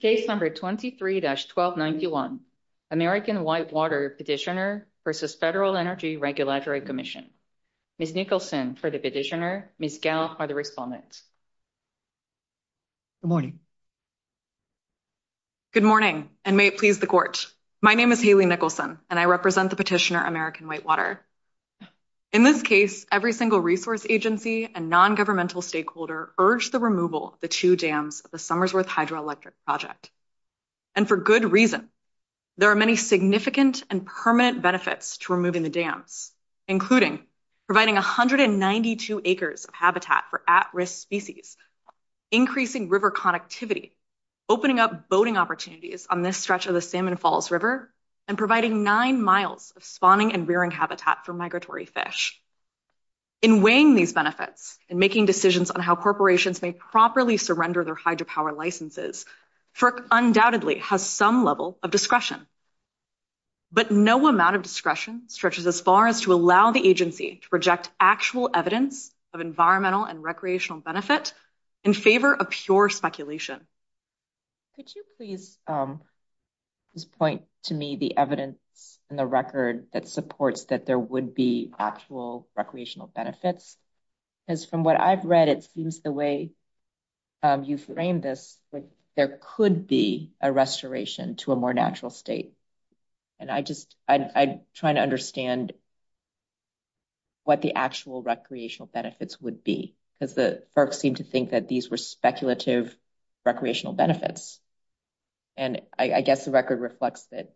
Case number 23-1291, American Whitewater Petitioner v. Federal Energy Regulatory Commission. Ms. Nicholson for the petitioner, Ms. Gell for the respondent. Good morning. Good morning, and may it please the Court. My name is Haley Nicholson, and I represent the petitioner, American Whitewater. In this case, every single resource agency and non-governmental stakeholder urged the removal of the two dams of the Summersworth Hydroelectric Project. And for good reason. There are many significant and permanent benefits to removing the dams, including providing 192 acres of habitat for at-risk species, increasing river connectivity, opening up boating opportunities on this stretch of the Salmon Falls River, and providing nine miles of spawning and rearing habitat for migratory fish. In weighing these benefits and making decisions on how corporations may properly surrender their hydropower licenses, FERC undoubtedly has some level of discretion. But no amount of discretion stretches as far as to allow the agency to project actual evidence of environmental and recreational benefit in favor of pure speculation. Could you please point to me the evidence in the record that supports that there would be actual recreational benefits? Because from what I've read, it seems the way you framed this, there could be a restoration to a more natural state. And I just, I'm trying to understand what the actual recreational benefits would be, because the FERC seemed to think that these were speculative recreational benefits. And I guess the record reflects that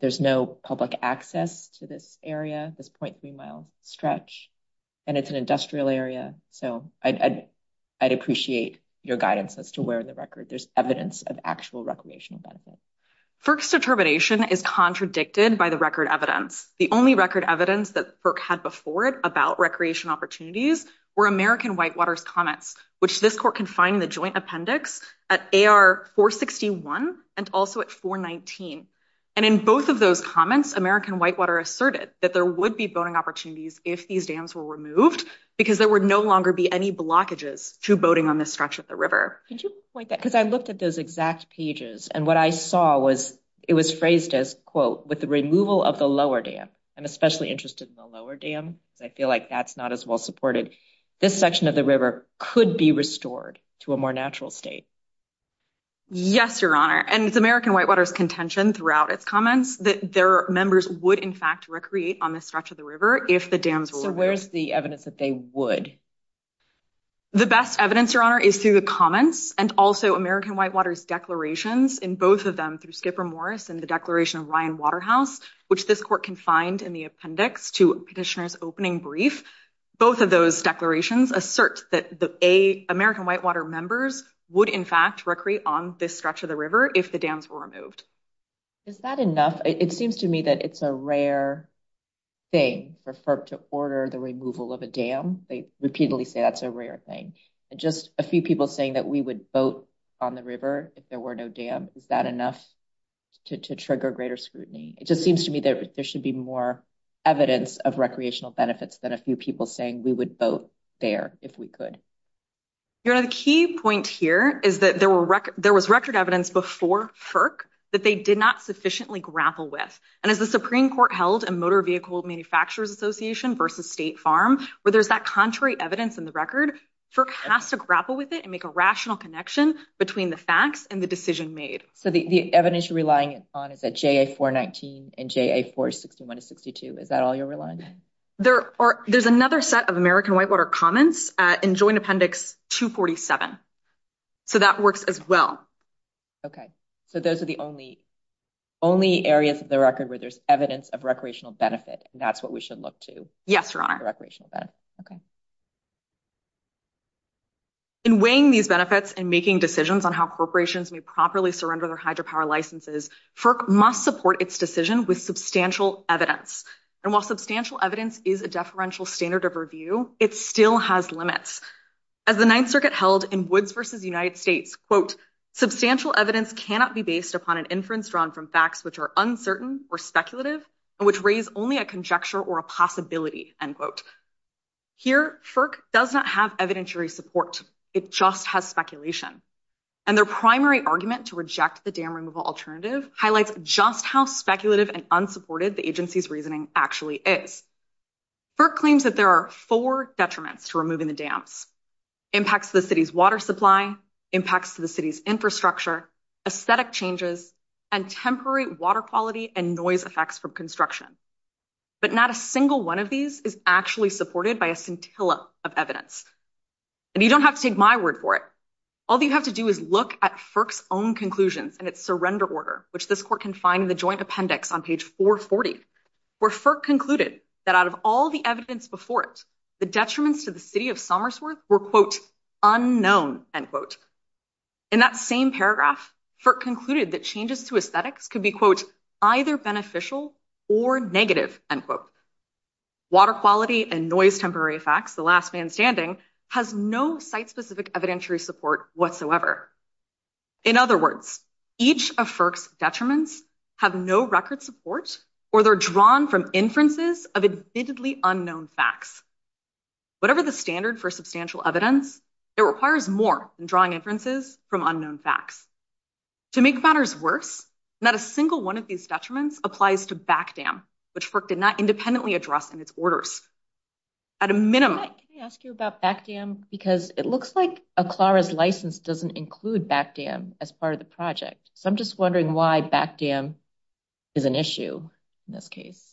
there's no public access to this area, this 0.3 mile stretch, and it's an industrial area. So I'd appreciate your guidance as to where in the record there's evidence of actual recreational benefit. FERC's determination is contradicted by the record evidence. The only record evidence that FERC had before it about recreation opportunities were American Whitewater's comments, which this court can find in the joint appendix at AR 461 and also at 419. And in both of those comments, American Whitewater asserted that there would be boating opportunities if these dams were removed, because there would no longer be any blockages to boating on this stretch of the river. Could you point that, because I looked at those exact pages, and what I saw was it was phrased as, quote, with the removal of the lower dam. I'm especially interested in the lower dam, because I feel like that's not as well supported. This section of the river could be restored to a more natural state. Yes, Your Honor. And it's American Whitewater's contention throughout its comments that their members would, in fact, recreate on this stretch of the river if the dams were removed. So where's the evidence that they would? The best evidence, Your Honor, is through the comments and also American Whitewater's declarations in both of them, through Skipper Morris and the declaration of Ryan Waterhouse, which this court can find in the appendix to Petitioner's opening brief. Both of those declarations assert that the American Whitewater members would, in fact, recreate on this stretch of the river if the dams were removed. Is that enough? It seems to me that it's a rare thing for FERC to order the removal of a dam. They repeatedly say that's a rare thing. And just a few people saying that we would boat on the river if there were no dam, is that enough to trigger greater scrutiny? It just seems to me that there should be more evidence of recreational benefits than a few people saying we would boat there if we could. Your Honor, the key point here is that there was record evidence before FERC that they did not sufficiently grapple with. And as the Supreme Court held in Motor Vehicle Manufacturers Association v. State Farm, where there's that contrary evidence in the record, FERC has to grapple with it and make a rational connection between the facts and the decision made. So the evidence you're relying on is that JA-419 and JA-461-62. Is that all you're relying on? There's another set of American Whitewater comments in Joint Appendix 247. So that works as well. Okay. So those are the only areas of the record where there's evidence of recreational benefit, and that's what we should look to? Yes, Your Honor. In weighing these benefits and making decisions on how corporations may properly surrender their hydropower licenses, FERC must support its decision with substantial evidence. And while substantial evidence is a deferential standard of review, it still has limits. As the Ninth Circuit held in Woods v. United States, quote, Here, FERC does not have evidentiary support. It just has speculation. And their primary argument to reject the dam removal alternative highlights just how speculative and unsupported the agency's reasoning actually is. FERC claims that there are four detriments to removing the dams. Impacts to the city's water supply, impacts to the city's infrastructure, aesthetic changes, and temporary water quality and noise effects from construction. But not a single one of these is actually supported by a scintilla of evidence. And you don't have to take my word for it. All you have to do is look at FERC's own conclusions and its surrender order, which this court can find in the joint appendix on page 440, where FERC concluded that out of all the evidence before it, the detriments to the city of Somersworth were, quote, unknown, end quote. In that same paragraph, FERC concluded that changes to aesthetics could be, quote, either beneficial or negative, end quote. Water quality and noise temporary effects, the last man standing, has no site-specific evidentiary support whatsoever. In other words, each of FERC's detriments have no record support or they're drawn from inferences of admittedly unknown facts. Whatever the standard for substantial evidence, it requires more than drawing inferences from unknown facts. To make matters worse, not a single one of these detriments applies to back dam, which FERC did not independently address in its orders. At a minimum— Can I ask you about back dam? Because it looks like Aklara's license doesn't include back dam as part of the project. So I'm just wondering why back dam is an issue in this case.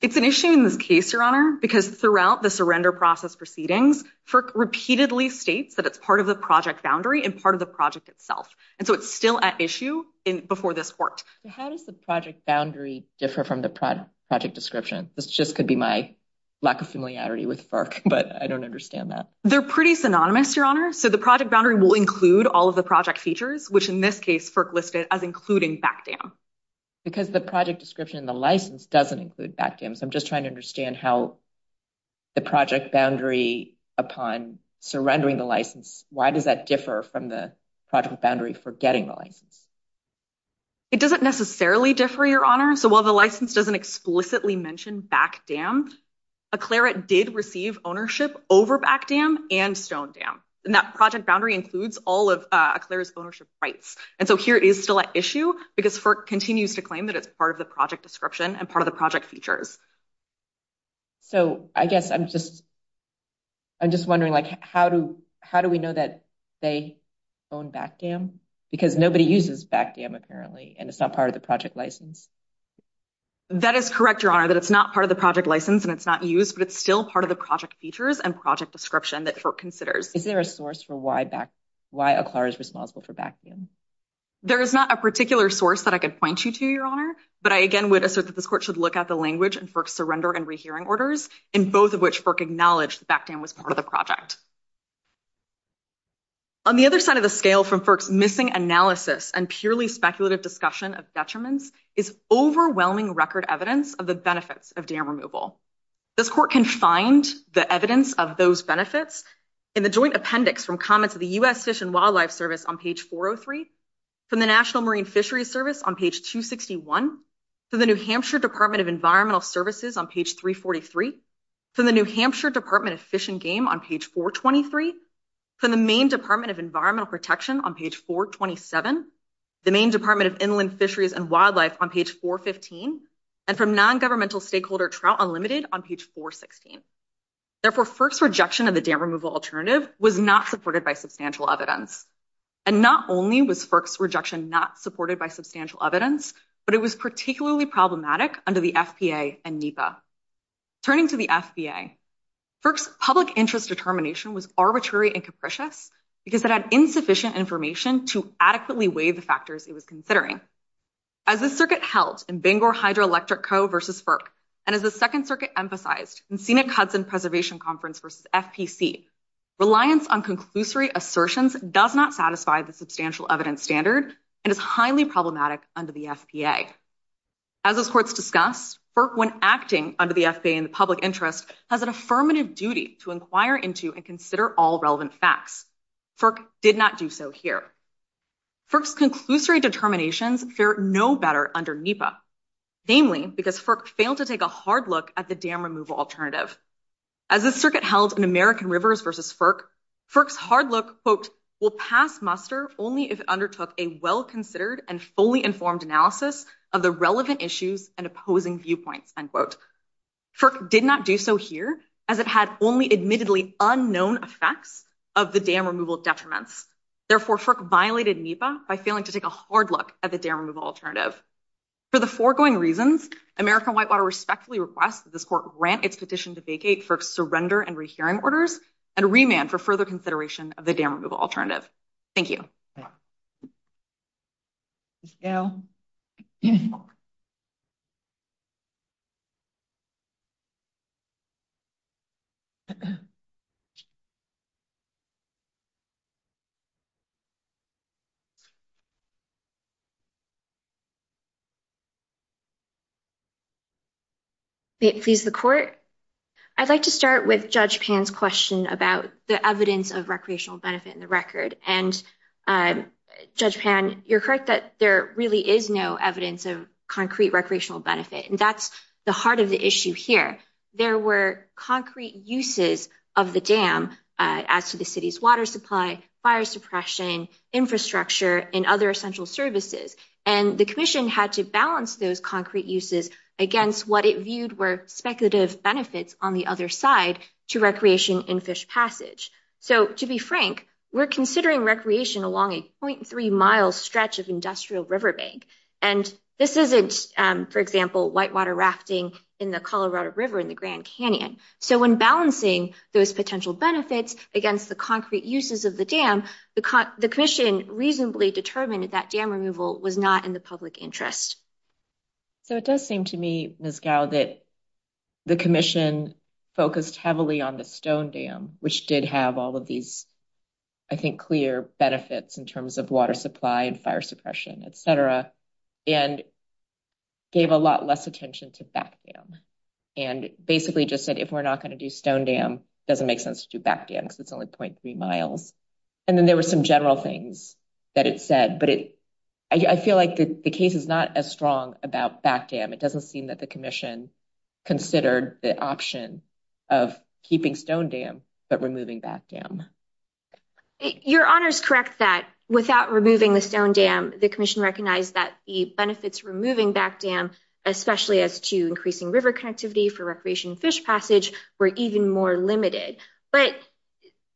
It's an issue in this case, Your Honor, because throughout the surrender process proceedings, FERC repeatedly states that it's part of the project boundary and part of the project itself. And so it's still at issue before this worked. How does the project boundary differ from the project description? This just could be my lack of familiarity with FERC, but I don't understand that. They're pretty synonymous, Your Honor. So the project boundary will include all of the project features, which in this case, FERC listed as including back dam. Because the project description in the license doesn't include back dam. So I'm just trying to understand how the project boundary upon surrendering the license, why does that differ from the project boundary for getting the license? It doesn't necessarily differ, Your Honor. So while the license doesn't explicitly mention back dam, Aklara did receive ownership over back dam and stone dam. And that project boundary includes all of Aklara's ownership rights. And so here it is still at issue because FERC continues to claim that it's part of the project description and part of the project features. So I guess I'm just wondering, like, how do we know that they own back dam? Because nobody uses back dam, apparently, and it's not part of the project license. That is correct, Your Honor, that it's not part of the project license and it's not used, but it's still part of the project features and project description that FERC considers. Is there a source for why Aklara is responsible for back dam? There is not a particular source that I could point you to, Your Honor, but I again would assert that this court should look at the language in FERC's surrender and rehearing orders, in both of which FERC acknowledged back dam was part of the project. On the other side of the scale from FERC's missing analysis and purely speculative discussion of detriments is overwhelming record evidence of the benefits of dam removal. This court can find the evidence of those benefits in the joint appendix from comments of the U.S. Fish and Wildlife Service on page 403, from the National Marine Fisheries Service on page 261, from the New Hampshire Department of Environmental Services on page 343, from the New Hampshire Department of Fish and Game on page 423, from the Maine Department of Environmental Protection on page 427, the Maine Department of Inland Fisheries and Wildlife on page 415, and from non-governmental stakeholder Trout Unlimited on page 416. Therefore, FERC's rejection of the dam removal alternative was not supported by substantial evidence. And not only was FERC's rejection not supported by substantial evidence, but it was particularly problematic under the FPA and NEPA. Turning to the FBA, FERC's public interest determination was arbitrary and capricious because it had insufficient information to adequately weigh the factors it was considering. As the circuit held in Bangor Hydroelectric Co. v. FERC, and as the Second Circuit emphasized in Scenic Hudson Preservation Conference v. FPC, reliance on conclusory assertions does not satisfy the substantial evidence standard and is highly problematic under the FPA. As those courts discussed, FERC, when acting under the FPA in the public interest, has an affirmative duty to inquire into and consider all relevant facts. FERC did not do so here. FERC's conclusory determinations fair no better under NEPA, namely because FERC failed to take a hard look at the dam removal alternative. As the circuit held in American Rivers v. FERC, FERC's hard look, quote, will pass muster only if it undertook a well-considered and fully informed analysis of the relevant issues and opposing viewpoints, end quote. FERC did not do so here, as it had only admittedly unknown effects of the dam removal detriments. Therefore, FERC violated NEPA by failing to take a hard look at the dam removal alternative. For the foregoing reasons, American Whitewater respectfully requests that this court grant its petition to vacate FERC's surrender and rehearing orders and remand for further consideration of the dam removal alternative. Thank you. Please, the court. I'd like to start with Judge Pan's question about the evidence of recreational benefit in the record. And Judge Pan, you're correct that there really is no evidence of concrete recreational benefit. And that's the heart of the issue here. There were concrete uses of the dam as to the city's water supply, fire suppression, infrastructure, and other essential services. And the commission had to balance those concrete uses against what it viewed were speculative benefits on the other side to recreation in Fish Passage. So, to be frank, we're considering recreation along a 0.3-mile stretch of industrial river bank. And this isn't, for example, whitewater rafting in the Colorado River in the Grand Canyon. So, when balancing those potential benefits against the concrete uses of the dam, the commission reasonably determined that dam removal was not in the public interest. So, it does seem to me, Ms. Gao, that the commission focused heavily on the Stone Dam, which did have all of these, I think, clear benefits in terms of water supply and fire suppression, et cetera, and gave a lot less attention to Back Dam. And basically just said, if we're not going to do Stone Dam, it doesn't make sense to do Back Dam because it's only 0.3 miles. And then there were some general things that it said. But I feel like the case is not as strong about Back Dam. It doesn't seem that the commission considered the option of keeping Stone Dam but removing Back Dam. Your Honor is correct that without removing the Stone Dam, the commission recognized that the benefits removing Back Dam, especially as to increasing river connectivity for recreation in Fish Passage, were even more limited. But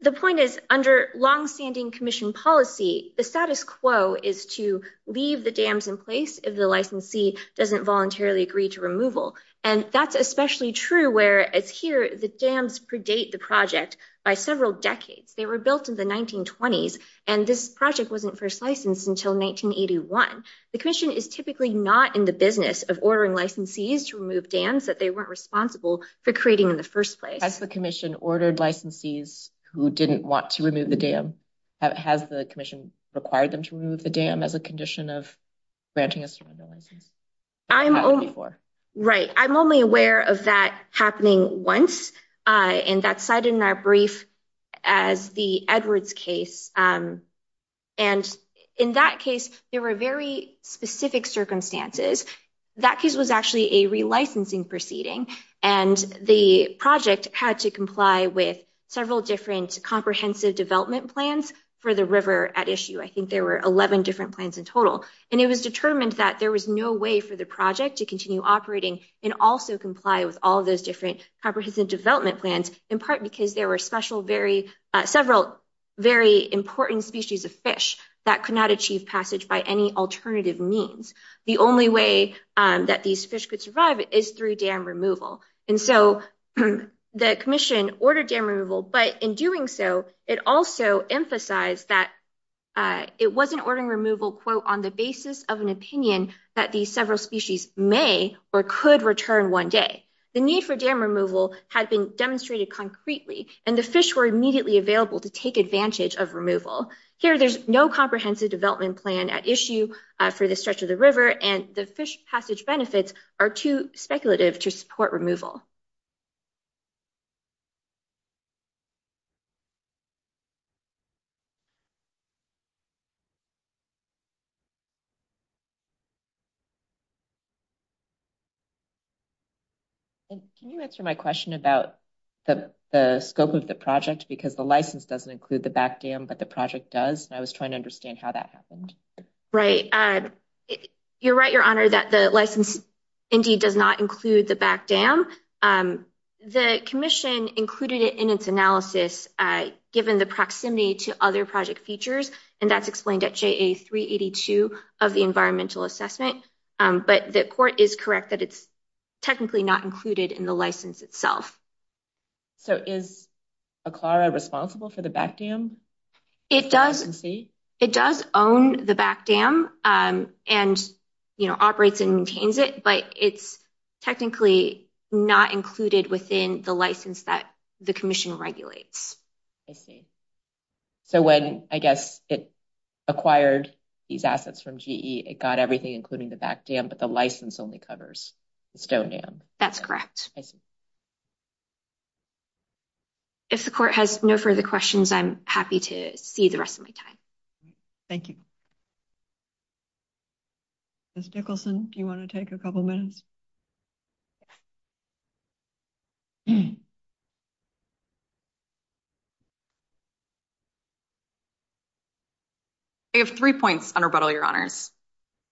the point is, under longstanding commission policy, the status quo is to leave the dams in place if the licensee doesn't voluntarily agree to removal. And that's especially true where, as here, the dams predate the project by several decades. They were built in the 1920s, and this project wasn't first licensed until 1981. The commission is typically not in the business of ordering licensees to remove dams that they weren't responsible for creating in the first place. Has the commission ordered licensees who didn't want to remove the dam? Has the commission required them to remove the dam as a condition of granting a surrender license? Right. I'm only aware of that happening once, and that's cited in our brief as the Edwards case. And in that case, there were very specific circumstances. That case was actually a relicensing proceeding, and the project had to comply with several different comprehensive development plans for the river at issue. I think there were 11 different plans in total. And it was determined that there was no way for the project to continue operating and also comply with all those different comprehensive development plans, in part because there were several very important species of fish that could not achieve passage by any alternative means. The only way that these fish could survive is through dam removal. And so the commission ordered dam removal, but in doing so, it also emphasized that it wasn't ordering removal, quote, on the basis of an opinion that these several species may or could return one day. The need for dam removal had been demonstrated concretely, and the fish were immediately available to take advantage of removal. Here, there's no comprehensive development plan at issue for the stretch of the river, and the fish passage benefits are too speculative to support removal. Can you answer my question about the scope of the project? Because the license doesn't include the back dam, but the project does. And I was trying to understand how that happened. You're right, Your Honor, that the license indeed does not include the back dam. The commission included it in its analysis, given the proximity to other project features, and that's explained at JA382 of the environmental assessment. But the court is correct that it's technically not included in the license itself. So is Eklara responsible for the back dam? It does own the back dam and, you know, operates and maintains it, but it's technically not included within the license that the commission regulates. I see. So when, I guess, it acquired these assets from GE, it got everything, including the back dam, but the license only covers the stone dam. That's correct. If the court has no further questions, I'm happy to see the rest of my time. Thank you. Ms. Nicholson, do you want to take a couple minutes? I have three points on rebuttal, Your Honors.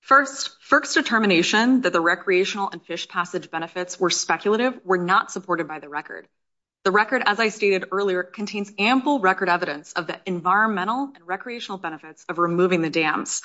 First, FERC's determination that the recreational and fish passage benefits were speculative were not supported by the record. The record, as I stated earlier, contains ample record evidence of the environmental and recreational benefits of removing the dams.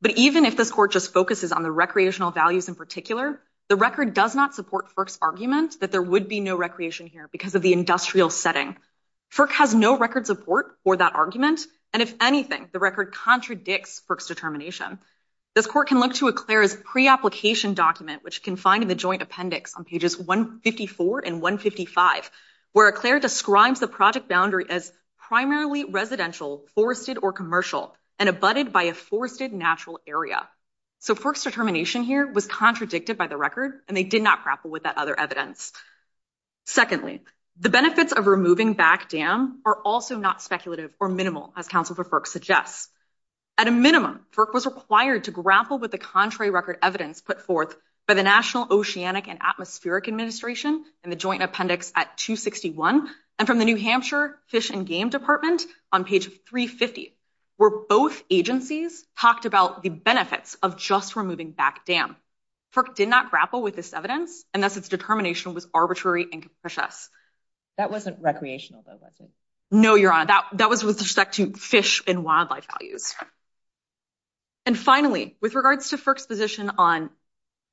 But even if this court just focuses on the recreational values in particular, the record does not support FERC's argument that there would be no recreation here because of the industrial setting. FERC has no record support for that argument, and if anything, the record contradicts FERC's determination. This court can look to Eclair's pre-application document, which you can find in the joint appendix on pages 154 and 155, where Eclair describes the project boundary as primarily residential, forested, or commercial, and abutted by a forested natural area. So FERC's determination here was contradicted by the record, and they did not grapple with that other evidence. Secondly, the benefits of removing back dam are also not speculative or minimal, as counsel for FERC suggests. At a minimum, FERC was required to grapple with the contrary record evidence put forth by the National Oceanic and Atmospheric Administration in the joint appendix at 261, and from the New Hampshire Fish and Game Department on page 350, where both agencies talked about the benefits of just removing back dam. FERC did not grapple with this evidence, and thus its determination was arbitrary and capricious. That wasn't recreational, though, was it? No, Your Honor, that was with respect to fish and wildlife values. And finally, with regards to FERC's position on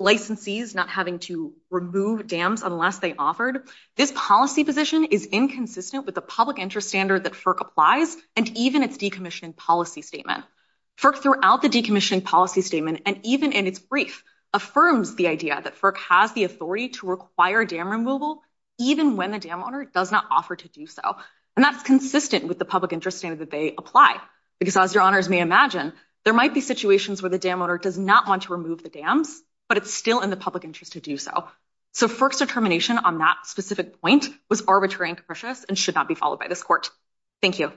licensees not having to remove dams unless they offered, this policy position is inconsistent with the public interest standard that FERC applies, and even its decommissioning policy statement. FERC, throughout the decommissioning policy statement, and even in its brief, affirms the idea that FERC has the authority to require dam removal even when the dam owner does not offer to do so. And that's consistent with the public interest standard that they apply, because as Your Honors may imagine, there might be situations where the dam owner does not want to remove the dams, but it's still in the public interest to do so. So FERC's determination on that specific point was arbitrary and capricious and should not be followed by this Court. Thank you.